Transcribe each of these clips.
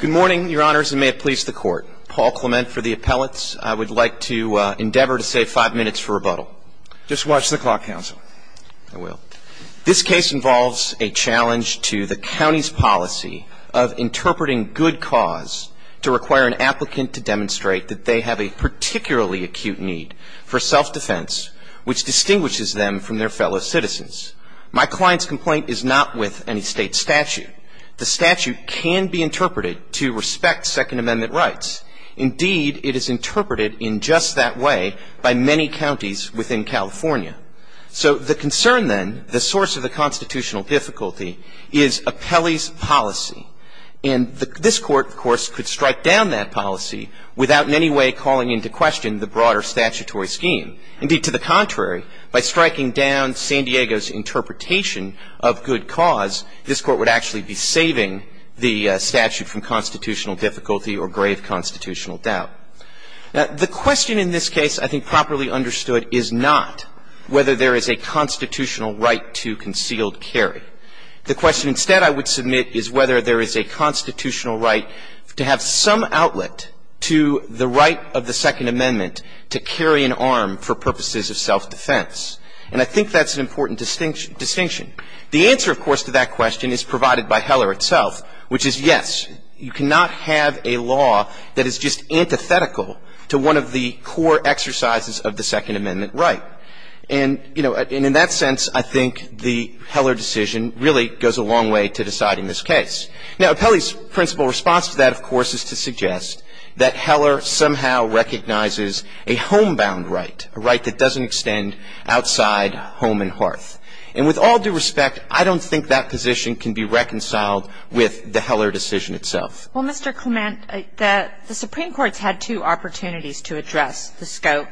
Good morning, your honors, and may it please the court. Paul Clement for the appellates. I would like to endeavor to save five minutes for rebuttal. Just watch the clock, counsel. I will. This case involves a challenge to the county's policy of interpreting good cause to require an applicant to demonstrate that they have a particularly acute need for self-defense which distinguishes them from their fellow citizens. My client's complaint is not with any state statute. The statute can be interpreted to respect Second Amendment rights. Indeed, it is interpreted in just that way by many counties within California. So the concern then, the source of the constitutional difficulty, is appellee's policy. And this court, of course, could strike down that policy without in any way calling into question the broader statutory scheme. Indeed, to the contrary, by striking down San Diego's interpretation of good cause, this court would actually be saving the statute from constitutional difficulty or grave constitutional doubt. Now, the question in this case I think properly understood is not whether there is a constitutional right to concealed carry. The question instead I would submit is whether there is a constitutional right to have some outlet to the right of the Second Amendment to carry an arm for purposes of self-defense. And I think that's an important distinction. The answer, of course, to that question is provided by Heller itself, which is, yes, you cannot have a law that is just antithetical to one of the core exercises of the Second Amendment right. And, you know, in that sense, I think the Heller decision really goes a long way to deciding this case. Now, appellee's principal response to that, of course, is to suggest that Heller somehow recognizes a homebound right, a right that doesn't extend outside home and hearth. And with all due respect, I don't think that position can be reconciled with the Heller decision itself. Well, Mr. Clement, the Supreme Court's had two opportunities to address the scope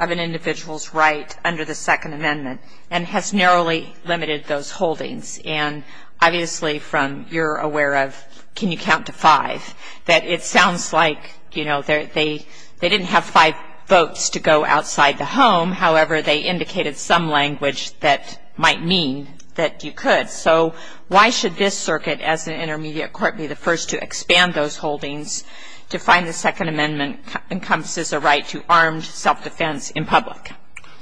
of an individual's right under the Second Amendment and has narrowly limited those holdings. And obviously, from your aware of can you count to five, that it sounds like, you know, they didn't have five votes to go outside the home. However, they indicated some language that might mean that you could. So why should this circuit, as an intermediate court, be the first to expand those holdings to find the Second Amendment encompasses a right to armed self-defense in public?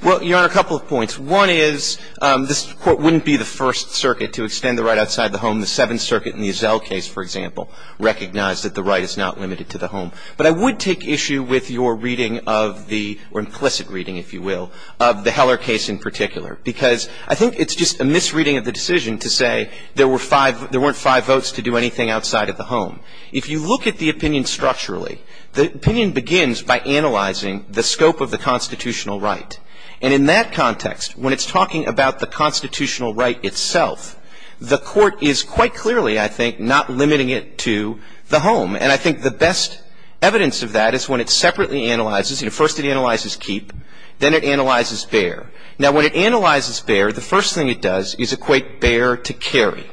Well, Your Honor, a couple of points. One is this Court wouldn't be the first circuit to extend the right outside the home. The Seventh Circuit in the Ezel case, for example, recognized that the right is not limited to the home. But I would take issue with your reading of the or implicit reading, if you will, of the Heller case in particular. Because I think it's just a misreading of the decision to say there were five, there weren't five votes to do anything outside of the home. If you look at the opinion structurally, the opinion begins by analyzing the scope of the constitutional right. And in that context, when it's talking about the constitutional right itself, the Court is quite clearly, I think, not limiting it to the home. And I think the best evidence of that is when it separately analyzes, you know, first it analyzes keep, then it analyzes bear. Now, when it analyzes bear, the first thing it does is equate bear to carry,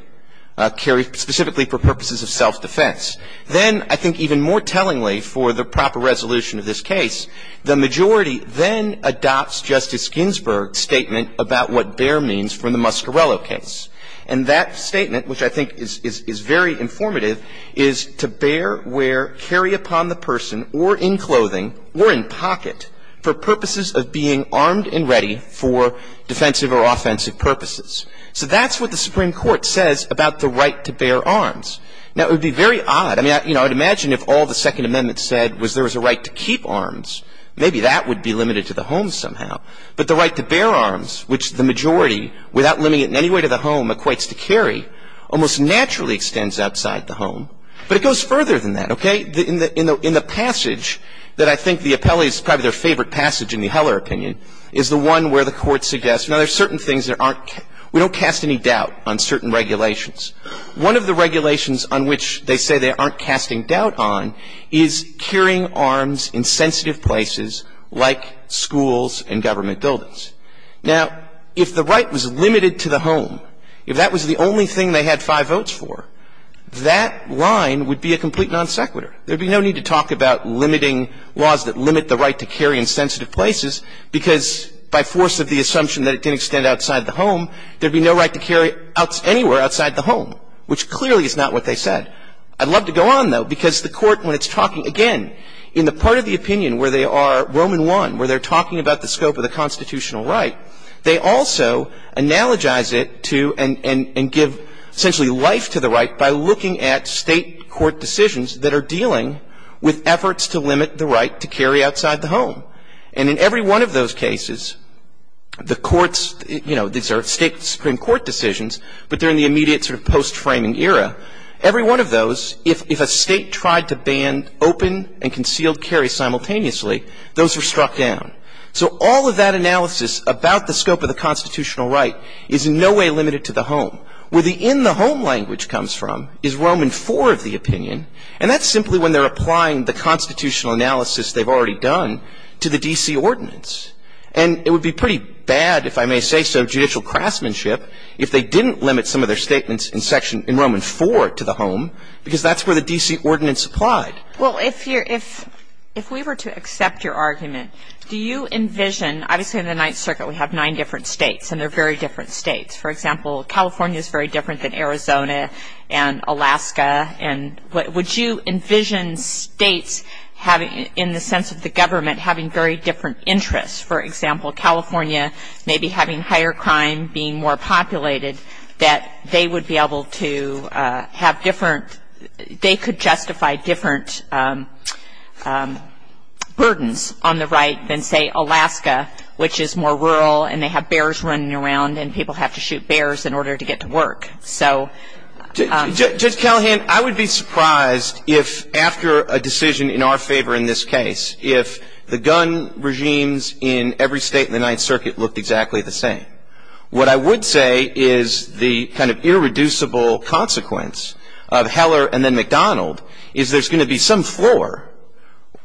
carry specifically for purposes of self-defense. Then I think even more tellingly for the proper resolution of this case, the majority then adopts Justice Ginsburg's statement about what bear means for the Muscarello case. And that statement, which I think is very informative, is to bear, wear, carry upon the person or in clothing or in pocket for purposes of being armed and ready for defensive or offensive purposes. So that's what the Supreme Court says about the right to bear arms. Now, it would be very odd. I mean, I would imagine if all the Second Amendment said was there was a right to keep arms, maybe that would be limited to the home somehow. But the right to bear arms, which the majority, without limiting it in any way to the home, equates to carry, almost naturally extends outside the home. But it goes further than that, okay? In the passage that I think the appellee's probably their favorite passage in the Heller opinion is the one where the Court suggests. Now, there's certain things that aren't we don't cast any doubt on certain regulations. One of the regulations on which they say they aren't casting doubt on is carrying arms in sensitive places like schools and government buildings. Now, if the right was limited to the home, if that was the only thing they had five votes for, that line would be a complete non sequitur. There'd be no need to talk about limiting laws that limit the right to carry in sensitive places because by force of the assumption that it didn't extend outside the home, there'd be no right to carry anywhere outside the home, which clearly is not what they said. I'd love to go on, though, because the Court, when it's talking, again, in the part of the opinion where they are Roman I, where they're talking about the scope of the constitutional right, they also analogize it to and give essentially life to the right by looking at state court decisions that are dealing with efforts to limit the right to carry outside the home. And in every one of those cases, the courts, you know, these are state Supreme Court decisions, but they're in the immediate sort of post-framing era. Every one of those, if a state tried to ban open and concealed carry simultaneously, those were struck down. So all of that analysis about the scope of the constitutional right is in no way limited to the home. Where the in the home language comes from is Roman IV of the opinion, and that's simply when they're applying the constitutional analysis they've already done to the D.C. ordinance. And it would be pretty bad, if I may say so, judicial craftsmanship if they didn't limit some of their statements in Roman IV to the home because that's where the D.C. ordinance applied. Well, if you're – if we were to accept your argument, do you envision – obviously in the Ninth Circuit we have nine different states, and they're very different states. For example, California is very different than Arizona and Alaska. And would you envision states having – in the sense of the government having very different interests? For example, California maybe having higher crime, being more populated, that they would be able to have different – they could justify different burdens on the right than, say, Alaska, which is more rural and they have bears running around, and people have to shoot bears in order to get to work. So – Judge Callahan, I would be surprised if after a decision in our favor in this case, if the gun regimes in every state in the Ninth Circuit looked exactly the same. What I would say is the kind of irreducible consequence of Heller and then McDonald is there's going to be some floor,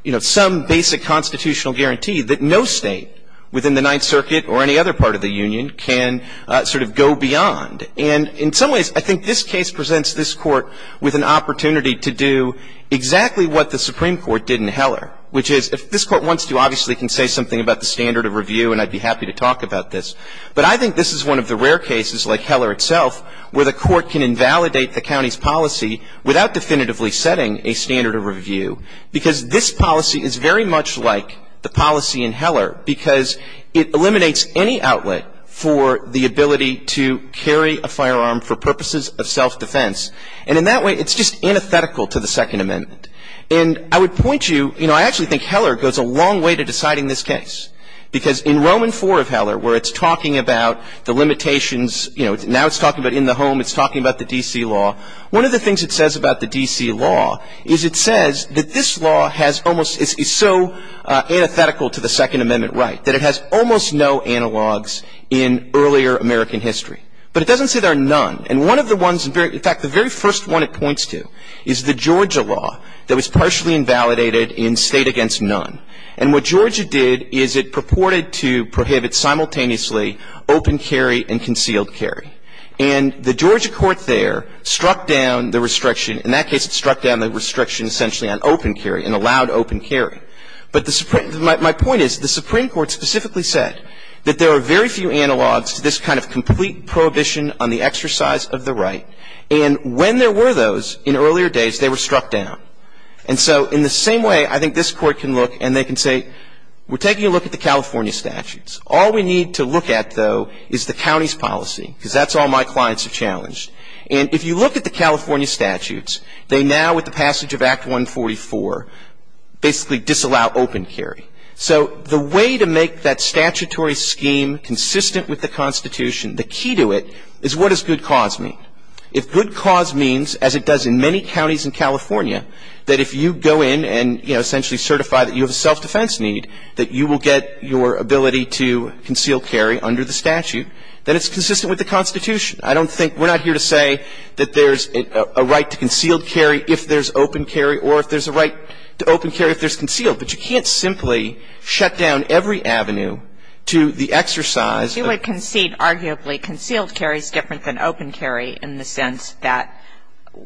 you know, some basic constitutional guarantee that no state within the Ninth Circuit or any other part of the union can sort of go beyond. And in some ways, I think this case presents this Court with an opportunity to do exactly what the Supreme Court did in Heller, which is – if this Court wants to, obviously it can say something about the standard of review, and I'd be happy to talk about this. But I think this is one of the rare cases like Heller itself where the Court can invalidate the county's policy without definitively setting a standard of review, because this policy is very much like the policy in Heller, because it eliminates any outlet for the ability to carry a firearm for purposes of self-defense. And in that way, it's just antithetical to the Second Amendment. And I would point you – you know, I actually think Heller goes a long way to deciding this case, because in Roman IV of Heller, where it's talking about the limitations, you know, now it's talking about in the home, it's talking about the D.C. law, one of the things it says about the D.C. law is it says that this law has almost – is so antithetical to the Second Amendment right that it has almost no analogs in earlier American history. But it doesn't say there are none. And one of the ones – in fact, the very first one it points to is the Georgia law that was partially invalidated in State Against None. And what Georgia did is it purported to prohibit simultaneously open carry and concealed carry. And the Georgia court there struck down the restriction – in that case, it struck down the restriction essentially on open carry and allowed open carry. But the – my point is the Supreme Court specifically said that there are very few analogs to this kind of complete prohibition on the exercise of the right. And when there were those in earlier days, they were struck down. And so in the same way, I think this Court can look and they can say, we're taking a look at the California statutes. All we need to look at, though, is the county's policy, because that's all my clients have challenged. And if you look at the California statutes, they now, with the passage of Act 144, basically disallow open carry. So the way to make that statutory scheme consistent with the Constitution, the key to it, is what does good cause mean? If good cause means, as it does in many counties in California, that if you go in and, you know, there's a possibility to conceal carry under the statute, then it's consistent with the Constitution. I don't think – we're not here to say that there's a right to concealed carry if there's open carry, or if there's a right to open carry if there's concealed. But you can't simply shut down every avenue to the exercise of the Constitution. Kagan. You would concede, arguably, concealed carry is different than open carry in the sense that,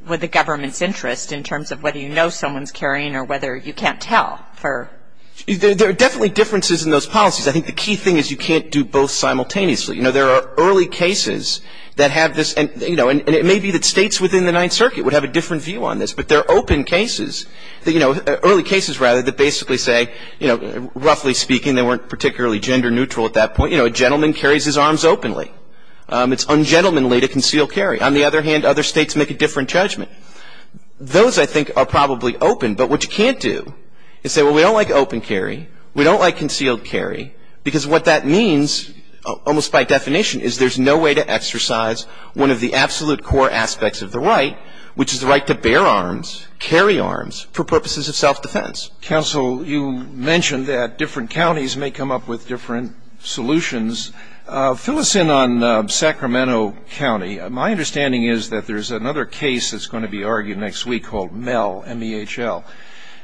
with the government's interest in terms of whether you know someone's carrying or whether you can't tell for – There are definitely differences in those policies. I think the key thing is you can't do both simultaneously. You know, there are early cases that have this – and, you know, and it may be that states within the Ninth Circuit would have a different view on this. But there are open cases that, you know – early cases, rather, that basically say, you know, roughly speaking, they weren't particularly gender neutral at that point. You know, a gentleman carries his arms openly. It's un-gentlemanly to conceal carry. On the other hand, other states make a different judgment. Those, I think, are probably open. But what you can't do is say, well, we don't like open carry. We don't like concealed carry. Because what that means, almost by definition, is there's no way to exercise one of the absolute core aspects of the right, which is the right to bear arms, carry arms, for purposes of self-defense. Counsel, you mentioned that different counties may come up with different solutions. Fill us in on Sacramento County. My understanding is that there's another case that's going to be argued next week called M.E.H.L., M-E-H-L.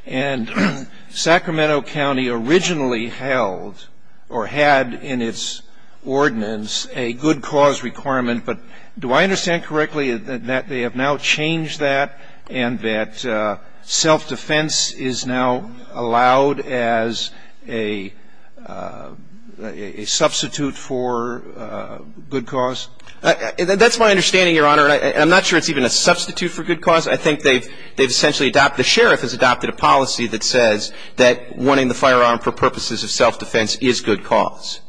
And Sacramento County originally held or had in its ordinance a good cause requirement. But do I understand correctly that they have now changed that, and that self-defense is now allowed as a substitute for good cause? That's my understanding, Your Honor. And I'm not sure it's even a substitute for good cause. I think they've essentially adopted the sheriff has adopted a policy that says that wanting the firearm for purposes of self-defense is good cause.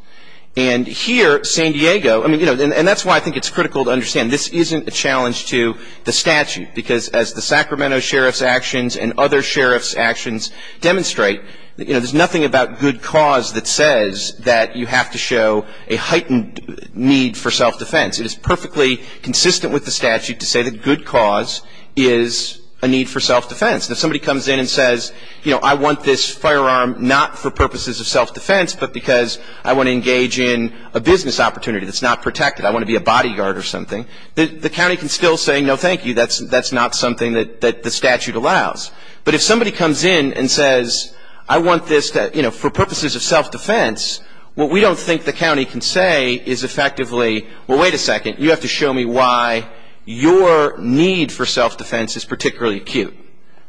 And here, San Diego, I mean, you know, and that's why I think it's critical to understand this isn't a challenge to the statute. Because as the Sacramento sheriff's actions and other sheriff's actions demonstrate, you know, there's nothing about good cause that says that you have to show a heightened need for self-defense. It is perfectly consistent with the statute to say that good cause is a need for self-defense. If somebody comes in and says, you know, I want this firearm not for purposes of self-defense, but because I want to engage in a business opportunity that's not protected, I want to be a bodyguard or something, the county can still say, no, thank you, that's not something that the statute allows. But if somebody comes in and says, I want this to, you know, for purposes of self-defense, what we don't think the county can say is effectively, well, wait a second, you have to show me why your need for self-defense is particularly acute.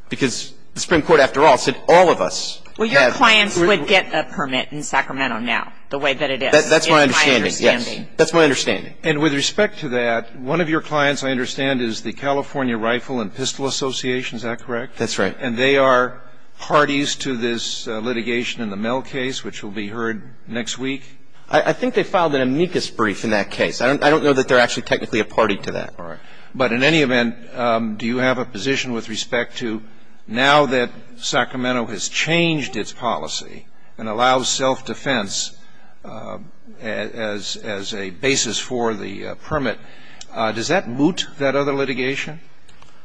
Because the Supreme Court, after all, said all of us have to be able to do that. Well, your clients would get a permit in Sacramento now, the way that it is. That's my understanding, yes. That's my understanding. And with respect to that, one of your clients, I understand, is the California Rifle and Pistol Association, is that correct? That's right. And they are parties to this litigation in the Mell case, which will be heard next week? I think they filed an amicus brief in that case. I don't know that they're actually technically a party to that. All right. But in any event, do you have a position with respect to now that Sacramento has changed its policy and allows self-defense as a basis for the permit, does that moot that other litigation?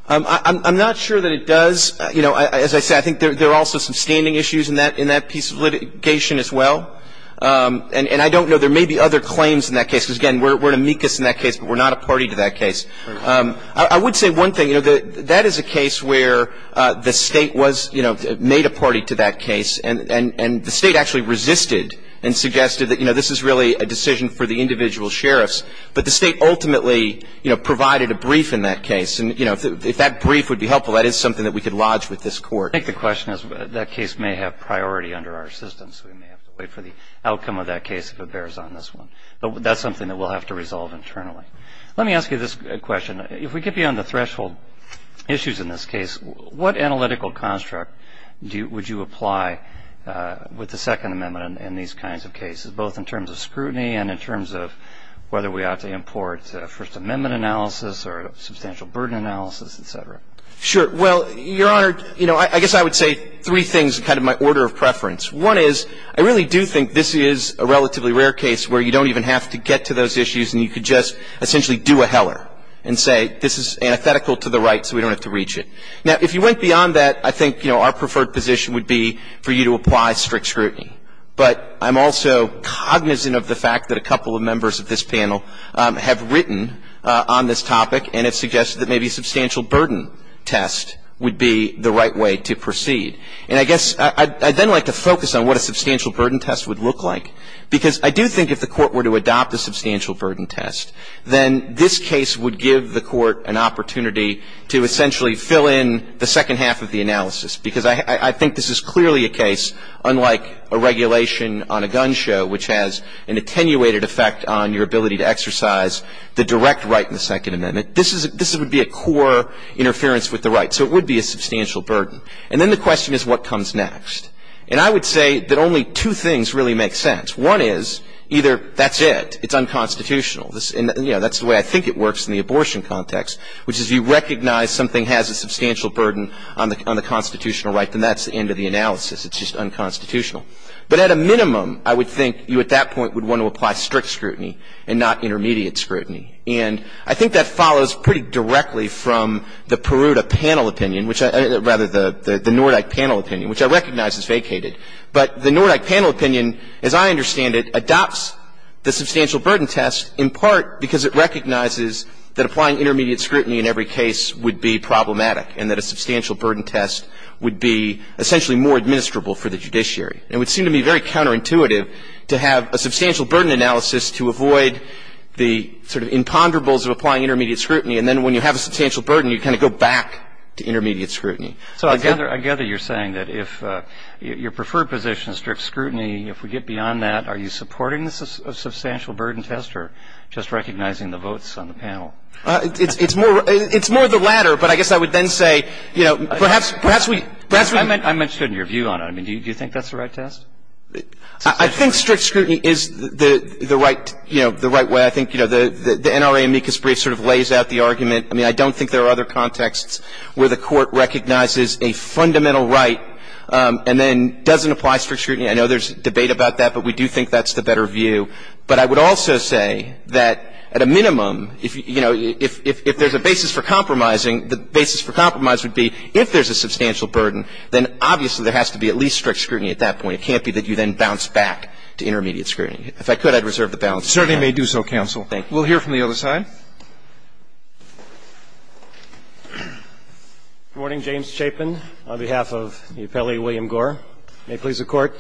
I'm not sure that it does. You know, as I said, I think there are also some standing issues in that piece of litigation as well. And I don't know. There may be other claims in that case. Because, again, we're an amicus in that case, but we're not a party to that case. I would say one thing. You know, that is a case where the State was, you know, made a party to that case. And the State actually resisted and suggested that, you know, this is really a decision for the individual sheriffs. But the State ultimately, you know, provided a brief in that case. And, you know, if that brief would be helpful, that is something that we could lodge with this Court. I think the question is that case may have priority under our system. So we may have to wait for the outcome of that case if it bears on this one. But that's something that we'll have to resolve internally. Let me ask you this question. If we get beyond the threshold issues in this case, what analytical construct would you apply with the Second Amendment in these kinds of cases, both in terms of scrutiny and in terms of whether we ought to support First Amendment analysis or substantial burden analysis, et cetera? Sure. Well, Your Honor, you know, I guess I would say three things, kind of my order of preference. One is, I really do think this is a relatively rare case where you don't even have to get to those issues, and you could just essentially do a Heller and say this is antithetical to the right, so we don't have to reach it. Now, if you went beyond that, I think, you know, our preferred position would be for you to apply strict scrutiny. But I'm also cognizant of the fact that a couple of members of this panel have written on this topic and have suggested that maybe a substantial burden test would be the right way to proceed. And I guess I'd then like to focus on what a substantial burden test would look like, because I do think if the Court were to adopt a substantial burden test, then this case would give the Court an opportunity to essentially fill in the second half of the analysis, because I think this is clearly a case, unlike a regulation on a gun show, which has an attenuated effect on your ability to exercise the direct right in the Second Amendment, this would be a core interference with the right, so it would be a substantial burden. And then the question is, what comes next? And I would say that only two things really make sense. One is, either that's it, it's unconstitutional, and, you know, that's the way I think it works in the abortion context, which is you recognize something has a substantial burden on the constitutional right, then that's the end of the analysis, it's just And I think that follows pretty directly from the Peruta panel opinion, which I – rather, the Nordyke panel opinion, which I recognize is vacated. But the Nordyke panel opinion, as I understand it, adopts the substantial burden test in part because it recognizes that applying intermediate scrutiny in every case would be problematic and that a substantial burden test would be essentially more administrable for the judiciary. And it would seem to me very counterintuitive to have a substantial burden analysis to avoid the sort of imponderables of applying intermediate scrutiny, and then when you have a substantial burden, you kind of go back to intermediate scrutiny. So I gather you're saying that if your preferred position is strict scrutiny, if we get beyond that, are you supporting a substantial burden test or just recognizing the votes on the panel? It's more of the latter, but I guess I would then say, you know, perhaps we I'm interested in your view on it. I mean, do you think that's the right test? I think strict scrutiny is the right, you know, the right way. I think, you know, the NRA amicus brief sort of lays out the argument. I mean, I don't think there are other contexts where the Court recognizes a fundamental right and then doesn't apply strict scrutiny. I know there's debate about that, but we do think that's the better view. But I would also say that at a minimum, you know, if there's a basis for compromising, the basis for compromise would be if there's a substantial burden, then obviously there has to be at least strict scrutiny at that point. It can't be that you then bounce back to intermediate scrutiny. If I could, I'd reserve the balance. Certainly may do so, counsel. Thank you. We'll hear from the other side. Good morning. James Chapin on behalf of the appellee William Gore. May it please the Court.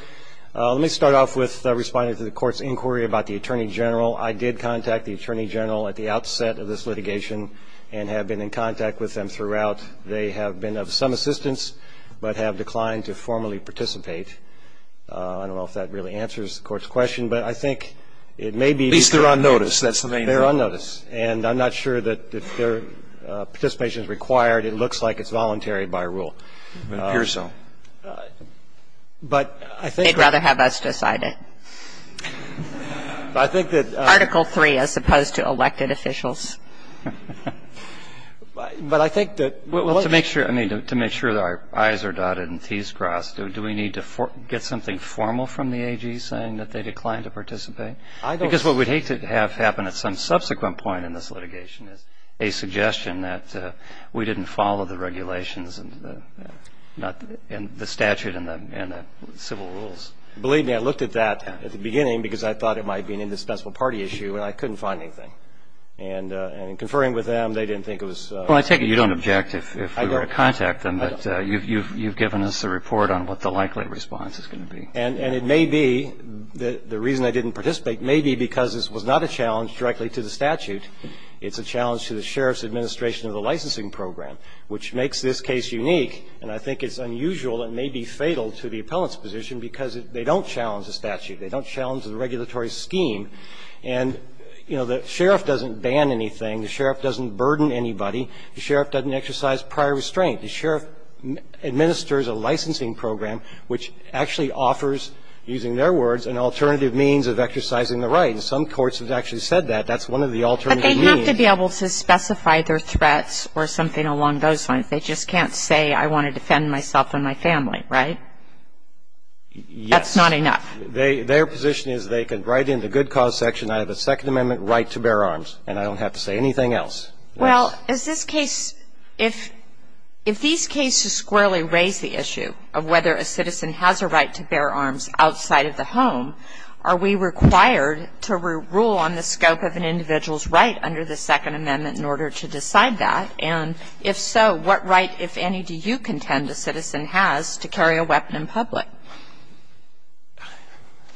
Let me start off with responding to the Court's inquiry about the attorney general. I did contact the attorney general at the outset of this litigation and have been in contact with them throughout. They have been of some assistance, but have declined to formally participate. I don't know if that really answers the Court's question, but I think it may be At least they're on notice. That's the main thing. They're on notice. And I'm not sure that if their participation is required, it looks like it's voluntary by rule. It appears so. But I think They'd rather have us decide it. I think that Article III, as opposed to elected officials. But I think that To make sure that our eyes are dotted and teeths crossed, do we need to get something formal from the AG saying that they declined to participate? I don't Because what we'd hate to have happen at some subsequent point in this litigation is a suggestion that we didn't follow the regulations and the statute and the civil rules. Believe me, I looked at that at the beginning because I thought it might be an indispensable party issue, and I couldn't find anything. And in conferring with them, they didn't think it was Well, I take it you don't object if we were to contact them, but you've given us a report on what the likely response is going to be. And it may be that the reason they didn't participate may be because this was not a challenge directly to the statute. It's a challenge to the Sheriff's administration of the licensing program, which makes this case unique, and I think it's unusual and may be fatal to the appellant's position because they don't challenge the statute. They don't challenge the regulatory scheme. And, you know, the Sheriff doesn't ban anything. The Sheriff doesn't burden anybody. The Sheriff doesn't exercise prior restraint. The Sheriff administers a licensing program which actually offers, using their words, an alternative means of exercising the right. And some courts have actually said that. That's one of the alternative means. But they have to be able to specify their threats or something along those lines. They just can't say I want to defend myself and my family, right? Yes. That's not enough. Their position is they can write in the good cause section, I have a Second Amendment right to bear arms, and I don't have to say anything else. Well, is this case – if these cases squarely raise the issue of whether a citizen has a right to bear arms outside of the home, are we required to rule on the scope of an individual's right under the Second Amendment in order to decide that? And if so, what right, if any, do you contend a citizen has to carry a weapon in public?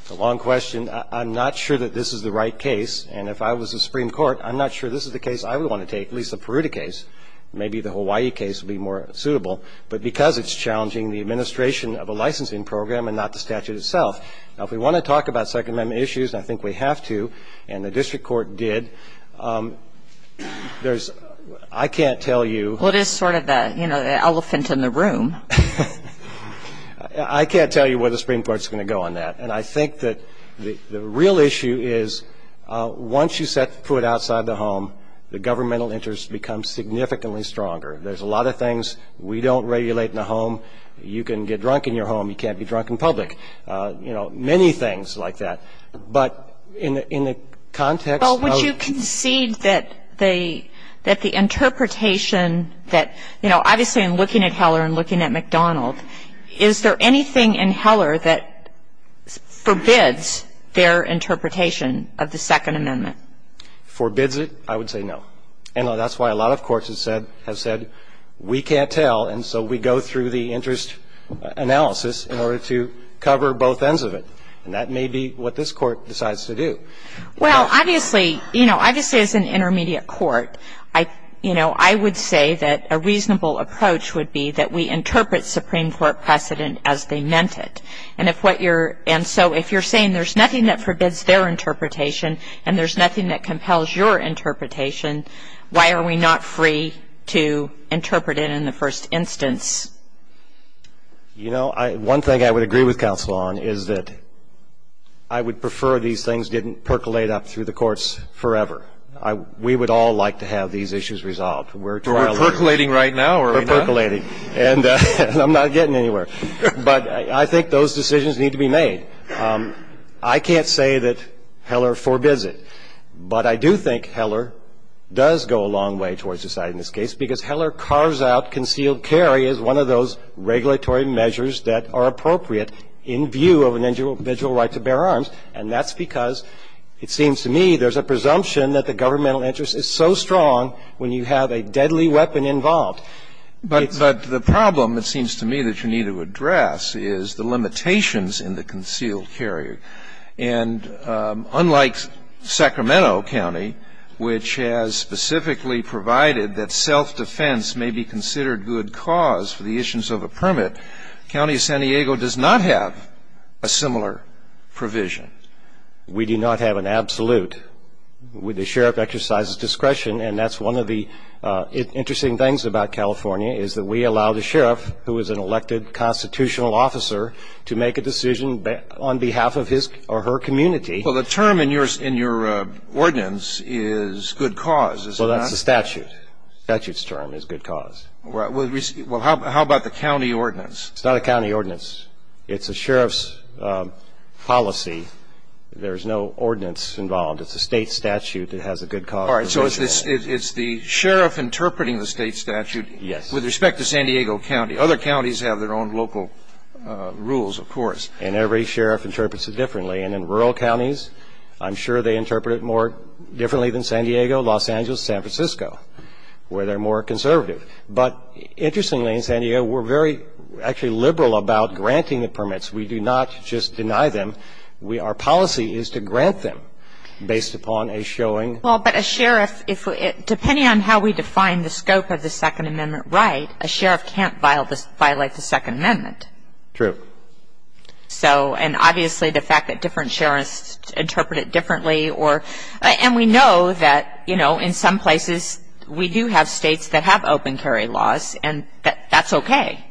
That's a long question. I'm not sure that this is the right case. And if I was the Supreme Court, I'm not sure this is the case I would want to take, at least the Peruta case. Maybe the Hawaii case would be more suitable. But because it's challenging the administration of a licensing program and not the statute itself. Now, if we want to talk about Second Amendment issues, and I think we have to, and the District Court did, there's – I can't tell you – Well, it is sort of the elephant in the room. I can't tell you where the Supreme Court's going to go on that. And I think that the real issue is once you set foot outside the home, the governmental interest becomes significantly stronger. There's a lot of things we don't regulate in the home. You can get drunk in your home. You can't be drunk in public. You know, many things like that. But in the context of – Well, would you concede that the interpretation that – you know, obviously in looking at Heller and looking at McDonald, is there anything in Heller that forbids their interpretation of the Second Amendment? Forbids it? I would say no. And that's why a lot of courts have said we can't tell, and so we go through the interest analysis in order to cover both ends of it. And that may be what this Court decides to do. Well, obviously, you know, obviously as an intermediate court, you know, I would say that a reasonable approach would be that we interpret Supreme Court precedent as they meant it. And so if you're saying there's nothing that forbids their interpretation and there's nothing that compels your interpretation, why are we not free to interpret it in the first instance? You know, one thing I would agree with counsel on is that I would prefer these things didn't percolate up through the courts forever. We would all like to have these issues resolved. We're trial lawyers. But we're percolating right now, are we not? We're percolating. And I'm not getting anywhere. But I think those decisions need to be made. I can't say that Heller forbids it. But I do think Heller does go a long way towards deciding this case because Heller carves out concealed carry as one of those regulatory measures that are appropriate in view of an individual right to bear arms. And that's because, it seems to me, there's a presumption that the governmental interest is so strong when you have a deadly weapon involved. But the problem, it seems to me, that you need to address is the limitations in the concealed carry. And unlike Sacramento County, which has specifically provided that self-defense may be considered good cause for the issues of a permit, County of San Diego does not have a similar provision. We do not have an absolute. The sheriff exercises discretion. And that's one of the interesting things about California, is that we allow the sheriff, who is an elected constitutional officer, to make a decision on behalf of his or her community. Well, the term in your ordinance is good cause, is it not? Well, that's the statute. The statute's term is good cause. Well, how about the county ordinance? It's not a county ordinance. It's a sheriff's policy. There's no ordinance involved. It's a state statute that has a good cause. All right. So it's the sheriff interpreting the state statute. Yes. With respect to San Diego County. Other counties have their own local rules, of course. And every sheriff interprets it differently. And in rural counties, I'm sure they interpret it more differently than San Diego, Los Angeles, San Francisco, where they're more conservative. But interestingly in San Diego, we're very actually liberal about granting the permits. We do not just deny them. Our policy is to grant them based upon a showing. Well, but a sheriff, depending on how we define the scope of the Second Amendment right, a sheriff can't violate the Second Amendment. True. And we know that, you know, in some places we do have states that have open carry laws. And that's okay.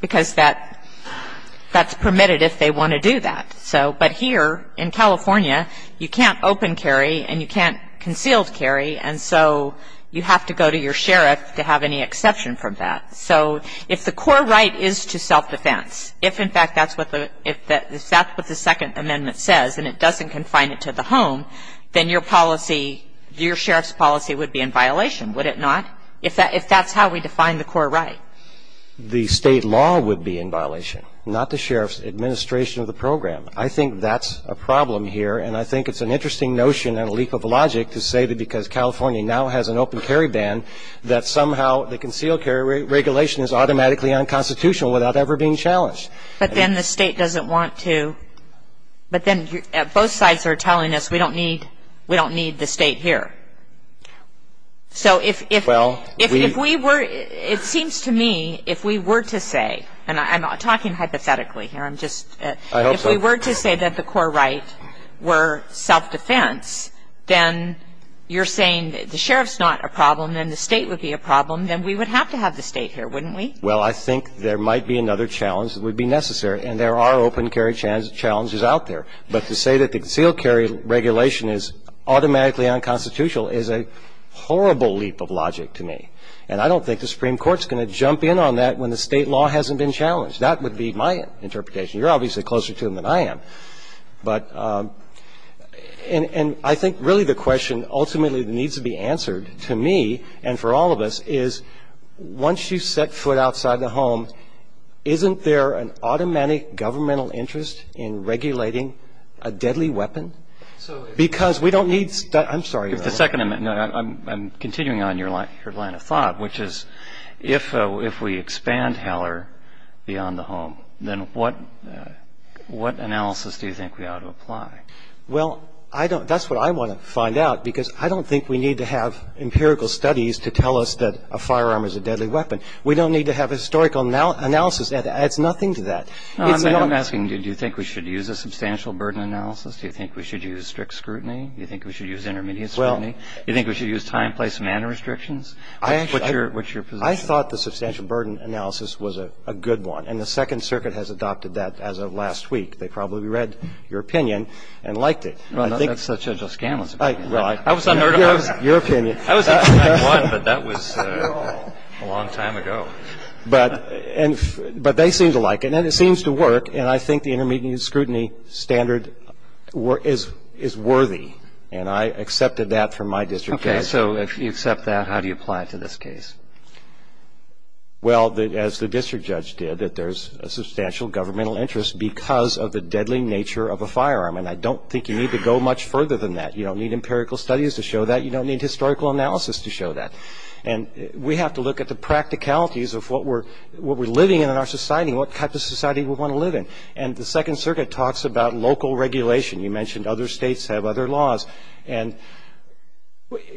Because that's permitted if they want to do that. But here in California, you can't open carry and you can't concealed carry. And so you have to go to your sheriff to have any exception from that. So if the core right is to self-defense, if in fact that's what the Second Amendment says and it doesn't confine it to the home, then your policy, your sheriff's policy would be in violation, would it not? If that's how we define the core right. The state law would be in violation, not the sheriff's administration of the program. I think that's a problem here. And I think it's an interesting notion and a leap of logic to say that because California now has an open carry ban, that somehow the concealed carry regulation is automatically unconstitutional without ever being challenged. But then the state doesn't want to. But then both sides are telling us we don't need the state here. So if we were, it seems to me, if we were to say, and I'm not talking hypothetically here, I'm just, if we were to say that the core right were self-defense, then you're saying the sheriff's not a problem and the state would be a problem, then we would have to have the state here, wouldn't we? Well, I think there might be another challenge that would be necessary and there are open carry challenges out there. But to say that the concealed carry regulation is automatically unconstitutional is a horrible leap of logic to me. And I don't think the Supreme Court's going to jump in on that when the state law hasn't been challenged. That would be my interpretation. You're obviously closer to them than I am. But, and I think really the question ultimately that needs to be answered to me and for all of us is once you set foot outside the home, isn't there an automatic governmental interest in regulating a deadly weapon? Because we don't need, I'm sorry. The second, I'm continuing on your line of thought, which is if we expand Heller beyond the home, then what analysis do you think we ought to apply? Well, I don't, that's what I want to find out because I don't think we need to have empirical studies to tell us that a firearm is a deadly weapon. We don't need to have historical analysis that adds nothing to that. I'm asking do you think we should use a substantial burden analysis? Do you think we should use strict scrutiny? Do you think we should use intermediate scrutiny? Do you think we should use time, place, manner restrictions? What's your position? I thought the substantial burden analysis was a good one and the Second Circuit has adopted that as of last week. They probably read your opinion and liked it. That's Judge O'Scanlon's opinion. I was a nerd about that. Your opinion. I was a nerd about that one, but that was a long time ago. But they seem to like it and it seems to work and I think the intermediate scrutiny standard is worthy and I accepted that from my district judge. Okay, so if you accept that, how do you apply it to this case? Well, as the district judge did, that there's a substantial governmental interest because of the deadly nature of a firearm and I don't think you need to go much further than that. You don't need empirical studies to show that. You don't need historical analysis to show that. And we have to look at the practicalities of what we're living in in our society and what type of society we want to live in. And the Second Circuit talks about local regulation. You mentioned other states have other laws. And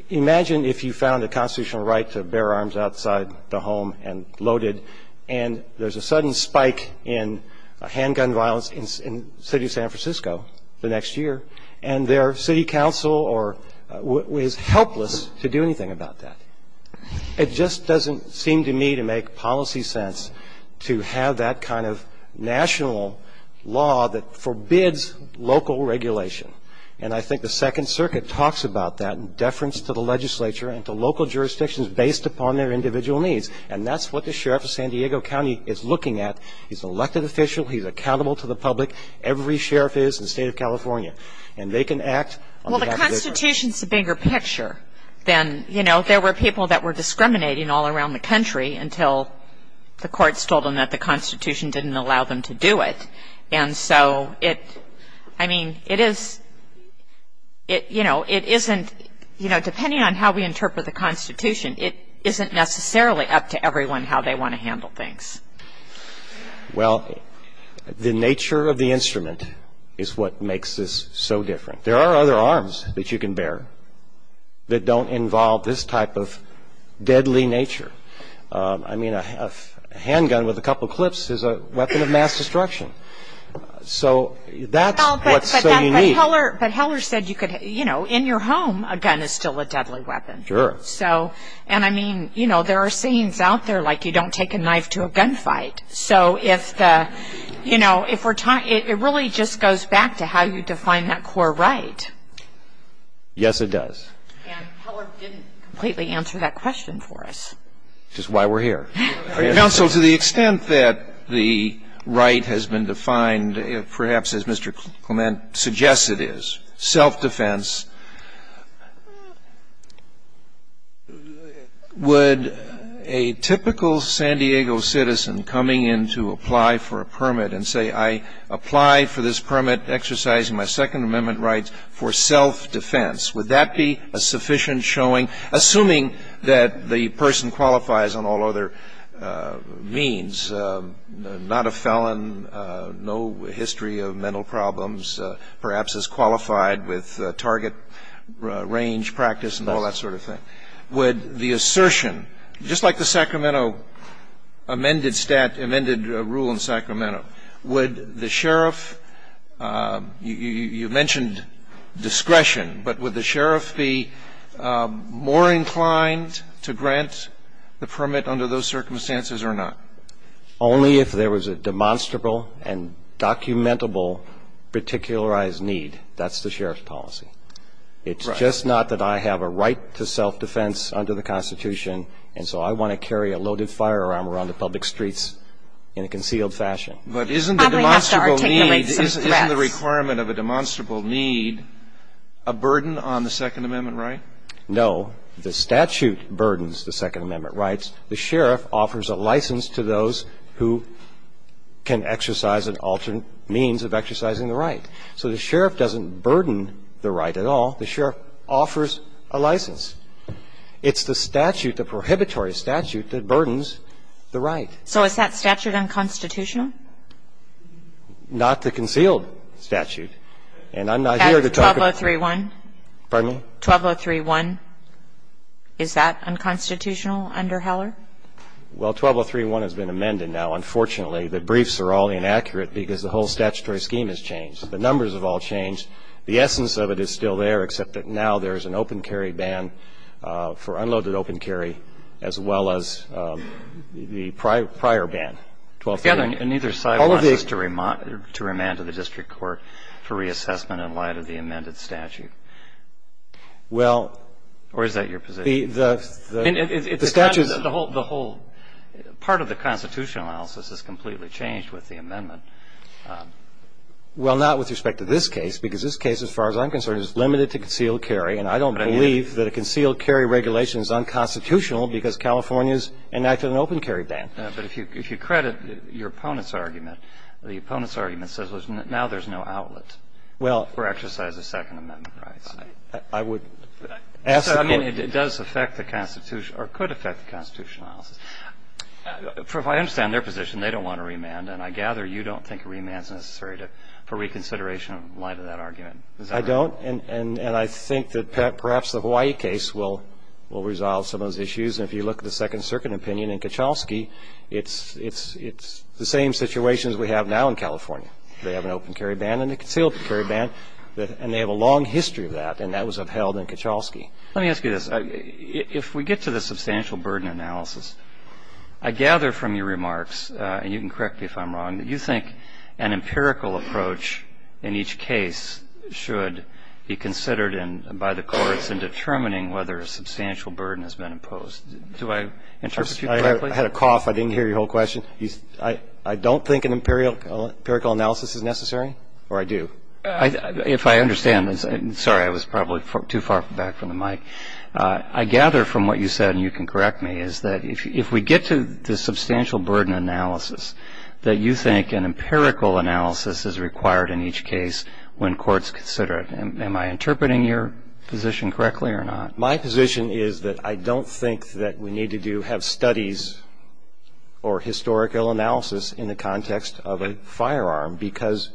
imagine if you found a constitutional right to bear arms outside the home and loaded and there's a sudden spike in handgun violence in the city of San Francisco the next year and their city council is helpless to do anything about that. It just doesn't seem to me to make policy sense to have that kind of national law that forbids local regulation. And I think the Second Circuit talks about that in deference to the legislature and to local jurisdictions based upon their individual needs. And that's what the Sheriff of San Diego County is looking at. He's an elected official. He's accountable to the public. Every sheriff is in the state of California. And they can act on behalf of their sheriff. Well, the Constitution's the bigger picture than, you know, there were people that were discriminating all around the country until the courts told them that the Constitution didn't allow them to do it. And so it, I mean, it is, you know, it isn't, you know, depending on how we interpret the Constitution, it isn't necessarily up to everyone how they want to handle things. Well, the nature of the instrument is what makes this so different. There are other arms that you can bear that don't involve this type of deadly nature. I mean, a handgun with a couple clips is a weapon of mass destruction. So that's what's so unique. But Heller said you could, you know, in your home a gun is still a deadly weapon. Sure. So, and I mean, you know, there are scenes out there like you don't take a knife to a gunfight. So if the, you know, if we're talking, it really just goes back to how you define that core right. Yes, it does. And Heller didn't completely answer that question for us. Which is why we're here. Now, so to the extent that the right has been defined, perhaps as Mr. Clement suggests it is, self-defense. Would a typical San Diego citizen coming in to apply for a permit and say, I apply for this permit exercising my Second Amendment rights for self-defense. Would that be a sufficient showing, assuming that the person qualifies on all other means, not a felon, no history of mental problems, perhaps is qualified with target range practice and all that sort of thing. Would the assertion, just like the Sacramento amended rule in Sacramento, would the sheriff, you mentioned discretion, but would the sheriff be more inclined to grant the permit under those circumstances or not? Only if there was a demonstrable and documentable particularized need. That's the sheriff's policy. It's just not that I have a right to self-defense under the Constitution. And so I want to carry a loaded firearm around the public streets in a concealed fashion. But isn't the requirement of a demonstrable need a burden on the Second Amendment right? No. The statute burdens the Second Amendment rights. The sheriff offers a license to those who can exercise an alternate means of exercising the right. So the sheriff doesn't burden the right at all. The sheriff offers a license. It's the statute, the prohibitory statute, that burdens the right. So is that statute unconstitutional? Not the concealed statute. And I'm not here to talk about that. That's 12031? Pardon me? 12031. 12031. Is that unconstitutional under Heller? Well, 12031 has been amended now. Unfortunately, the briefs are all inaccurate because the whole statutory scheme has changed. The numbers have all changed. The essence of it is still there except that now there is an open carry ban for unloaded open carry as well as the prior ban, 12031. And neither side wants to remand to the district court for reassessment in light of the amended statute. Well. Or is that your position? The statute. The whole part of the constitutional analysis has completely changed with the amendment. Well, not with respect to this case because this case, as far as I'm concerned, is limited to concealed carry. And I don't believe that a concealed carry regulation is unconstitutional because California has enacted an open carry ban. But if you credit your opponent's argument, the opponent's argument says, well, now there's no outlet. Well. For exercise of Second Amendment rights. I would ask the court. I mean, it does affect the constitution or could affect the constitutional analysis. I understand their position. They don't want to remand. And I gather you don't think remand is necessary for reconsideration in light of that argument. I don't. And I think that perhaps the Hawaii case will resolve some of those issues. And if you look at the Second Circuit opinion in Kachowski, it's the same situation as we have now in California. They have an open carry ban and a concealed carry ban. And they have a long history of that. And that was upheld in Kachowski. Let me ask you this. If we get to the substantial burden analysis, I gather from your remarks, and you can correct me if I'm wrong, that you think an empirical approach in each case should be considered by the courts in determining whether a substantial burden has been imposed. Do I interpret you correctly? I had a cough. I didn't hear your whole question. I don't think an empirical analysis is necessary. Or I do. If I understand, sorry, I was probably too far back from the mic. I gather from what you said, and you can correct me, is that if we get to the substantial burden analysis, that you think an empirical analysis is required in each case when courts consider it. Am I interpreting your position correctly or not? My position is that I don't think that we need to have studies or historical analysis in the context of a firearm because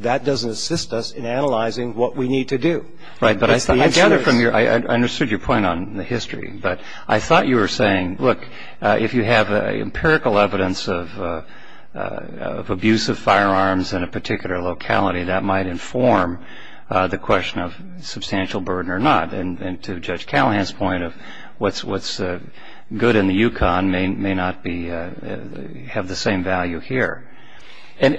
that doesn't assist us in analyzing what we need to do. Right, but I gather from your, I understood your point on the history, but I thought you were saying, look, if you have empirical evidence of abuse of firearms in a particular locality, that might inform the question of substantial burden or not. And to Judge Callahan's point of what's good in the Yukon may not have the same value here. And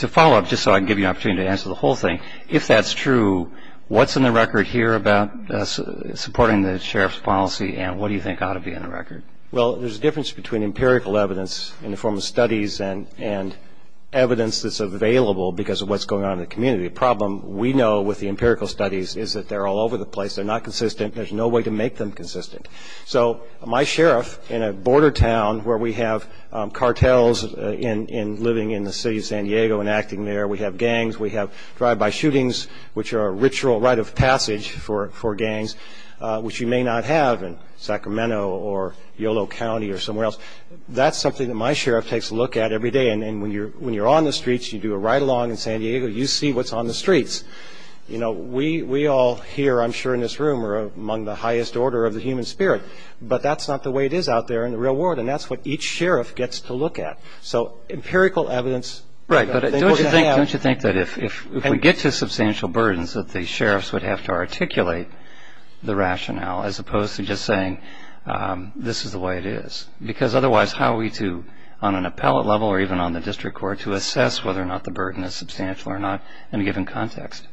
to follow up, just so I can give you an opportunity to answer the whole thing, if that's true, what's in the record here about supporting the Sheriff's policy and what do you think ought to be in the record? Well, there's a difference between empirical evidence in the form of studies and evidence that's available because of what's going on in the community. The problem we know with the empirical studies is that they're all over the place. They're not consistent. There's no way to make them consistent. So my sheriff in a border town where we have cartels living in the city of San Diego and acting there, we have gangs, we have drive-by shootings, which are a ritual rite of passage for gangs, which you may not have in Sacramento or Yolo County or somewhere else. That's something that my sheriff takes a look at every day. And when you're on the streets, you do a ride-along in San Diego, you see what's on the streets. You know, we all here, I'm sure, in this room are among the highest order of the human spirit, but that's not the way it is out there in the real world. And that's what each sheriff gets to look at. So empirical evidence... Right, but don't you think that if we get to substantial burdens that the sheriffs would have to articulate the rationale as opposed to just saying this is the way it is. Because otherwise, how are we to, on an appellate level or even on the district court, to assess whether or not the burden is substantial or not in a given context?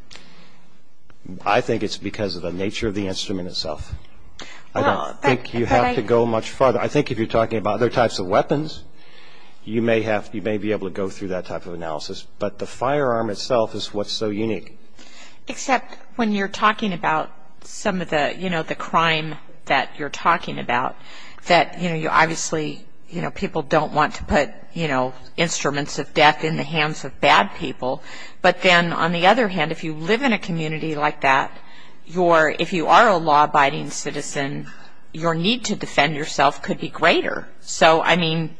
I think it's because of the nature of the instrument itself. I don't think you have to go much farther. I think if you're talking about other types of weapons, you may be able to go through that type of analysis. But the firearm itself is what's so unique. Except when you're talking about some of the crime that you're talking about, that obviously people don't want to put instruments of death in the community. And on the other hand, if you live in a community like that, if you are a law-abiding citizen, your need to defend yourself could be greater. So, I mean...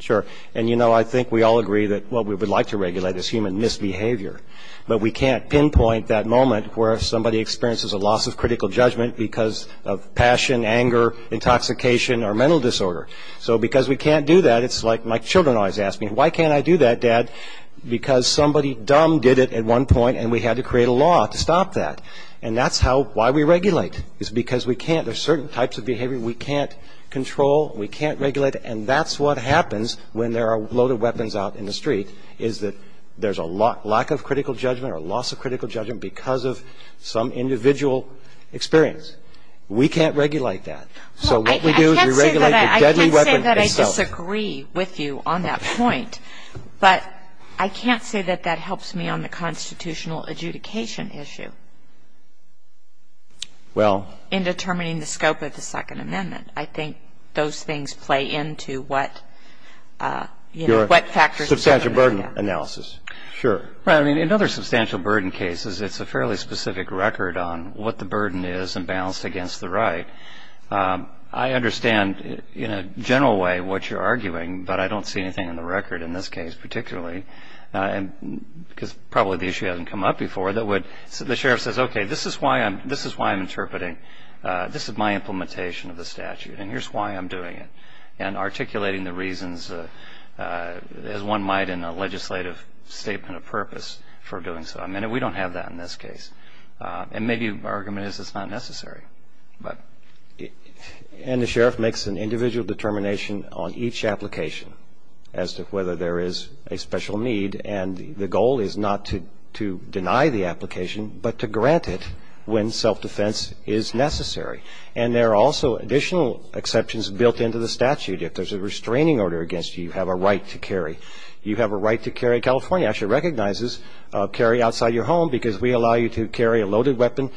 Sure. And you know, I think we all agree that what we would like to regulate is human misbehavior. But we can't pinpoint that moment where somebody experiences a loss of critical judgment because of passion, anger, intoxication, or mental disorder. So because we can't do that, it's like my children always ask me, why can't I do that, Dad? Because somebody dumb did it at one point, and we had to create a law to stop that. And that's how, why we regulate, is because we can't, there's certain types of behavior we can't control, we can't regulate. And that's what happens when there are loaded weapons out in the street, is that there's a lack of critical judgment or loss of critical judgment because of some individual experience. We can't regulate that. So what we do is we regulate the deadly weapon itself. I can't say that I disagree with you on that point, but I can't say that that helps me on the constitutional adjudication issue. Well... In determining the scope of the Second Amendment. I think those things play into what, you know, what factors... Substantial burden analysis. Sure. Right. I mean, in other substantial burden cases, it's a fairly specific record on what the burden is and balanced against the right. I understand in a general way what you're arguing, but I don't see anything in the record in this case particularly, because probably the issue hasn't come up before, that would... The sheriff says, okay, this is why I'm interpreting, this is my implementation of the statute, and here's why I'm doing it. And articulating the reasons as one might in a legislative statement of purpose for doing so. I mean, we don't have that in this case. And maybe our argument is it's not necessary. But... And the sheriff makes an individual determination on each application as to whether there is a special need. And the goal is not to deny the application, but to grant it when self-defense is necessary. And there are also additional exceptions built into the statute. If there's a restraining order against you, you have a right to carry. You have a right to carry. California actually recognizes carry outside your home because we allow you to carry a loaded weapon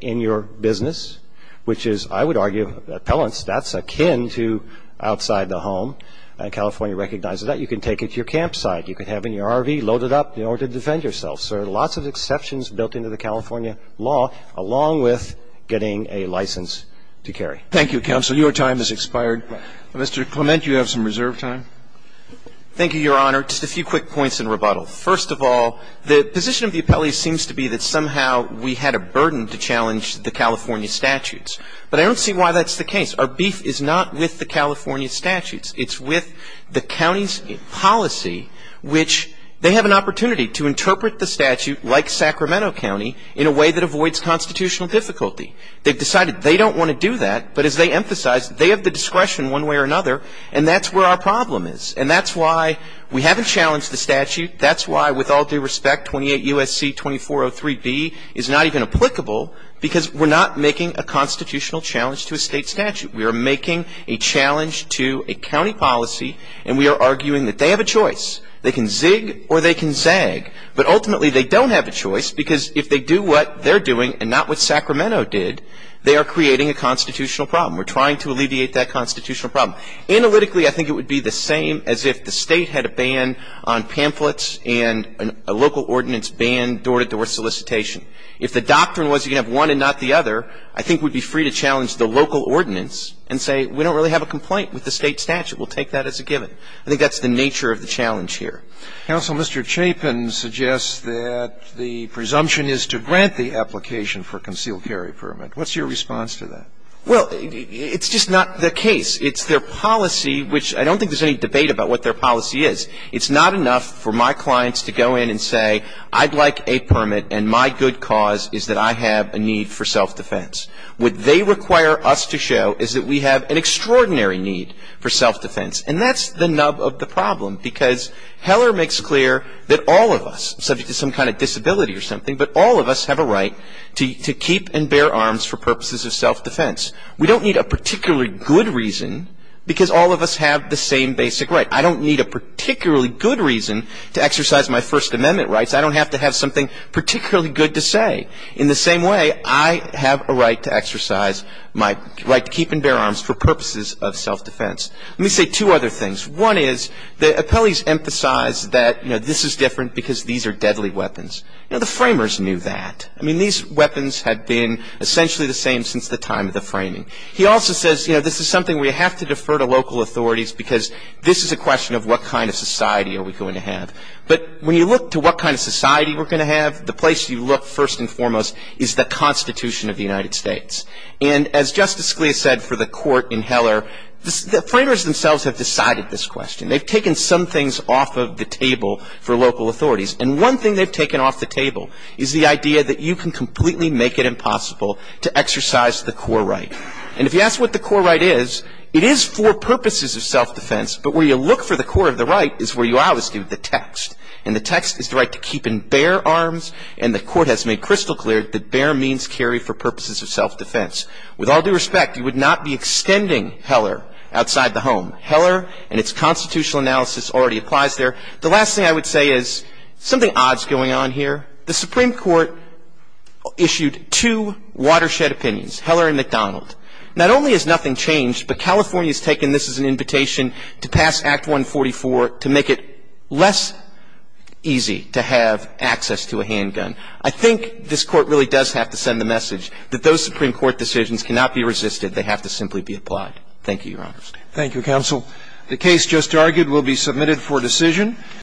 in your business, which is, I would argue, appellants, that's akin to outside the home. And California recognizes that. You can take it to your campsite. You can have it in your RV loaded up in order to defend yourself. So there are lots of exceptions built into the California law, along with getting a license to carry. Thank you, counsel. Your time has expired. Mr. Clement, you have some reserve time. Thank you, Your Honor. Just a few quick points in rebuttal. First of all, the position of the appellees seems to be that somehow we had a burden to challenge the California statutes. But I don't see why that's the case. Our beef is not with the California statutes. It's with the county's policy, which they have an opportunity to interpret the statute like Sacramento County in a way that avoids constitutional difficulty. They've decided they don't want to do that, but as they emphasize, they have the discretion one way or another, and that's where our problem is. And that's why we haven't challenged the statute. That's why, with all due respect, 28 U.S.C. 2403B is not even applicable because we're not making a constitutional challenge to a state statute. We are making a challenge to a county policy, and we are arguing that they have a choice. They can zig or they can zag, but ultimately they don't have a choice because if they do what they're doing and not what Sacramento did, they are creating a constitutional problem. We're trying to alleviate that constitutional problem. Analytically, I think it would be the same as if the state had a ban on pamphlets and a local ordinance ban door-to-door solicitation. If the doctrine was you can have one and not the other, I think we'd be free to challenge the local ordinance and say we don't really have a complaint with the state statute. We'll take that as a given. I think that's the nature of the challenge here. Counsel, Mr. Chapin suggests that the presumption is to grant the application for a concealed carry permit. What's your response to that? Well, it's just not the case. It's their policy, which I don't think there's any debate about what their policy is. It's not enough for my clients to go in and say I'd like a permit and my good cause is that I have a need for self-defense. What they require us to show is that we have an extraordinary need for self-defense. And that's the nub of the problem because Heller makes clear that all of us, subject to some kind of disability or something, but all of us have a right to keep and bear arms for purposes of self-defense. We don't need a particularly good reason because all of us have the same basic right. I don't need a particularly good reason to exercise my First Amendment rights. I don't have to have something particularly good to say. In the same way, I have a right to exercise my right to keep and bear arms for purposes of self-defense. Let me say two other things. One is the appellees emphasize that, you know, this is different because these are deadly weapons. You know, the framers knew that. I mean, these weapons had been essentially the same since the time of the framing. He also says, you know, this is something we have to defer to local authorities because this is a question of what kind of society are we going to have. But when you look to what kind of society we're going to have, the place you look, first and foremost, is the Constitution of the United States. And as Justice Scalia said for the court in Heller, the framers themselves have decided this question. They've taken some things off of the table for local authorities. And one thing they've taken off the table is the idea that you can completely make it impossible to exercise the core right. And if you ask what the core right is, it is for purposes of self-defense. But where you look for the core of the right is where you always give the text. And the text is the right to keep and bear arms. And the court has made crystal clear that bear means carry for purposes of self-defense. With all due respect, you would not be extending Heller outside the home. Heller and its constitutional analysis already applies there. The last thing I would say is something odd is going on here. The Supreme Court issued two watershed opinions, Heller and McDonald. Not only has nothing changed, but California has taken this as an invitation to pass Act 144 to make it less easy to have access to a handgun. I think this Court really does have to send the message that those Supreme Court decisions cannot be resisted. They have to simply be applied. Thank you, Your Honor. Thank you, counsel. The case just argued will be submitted for decision.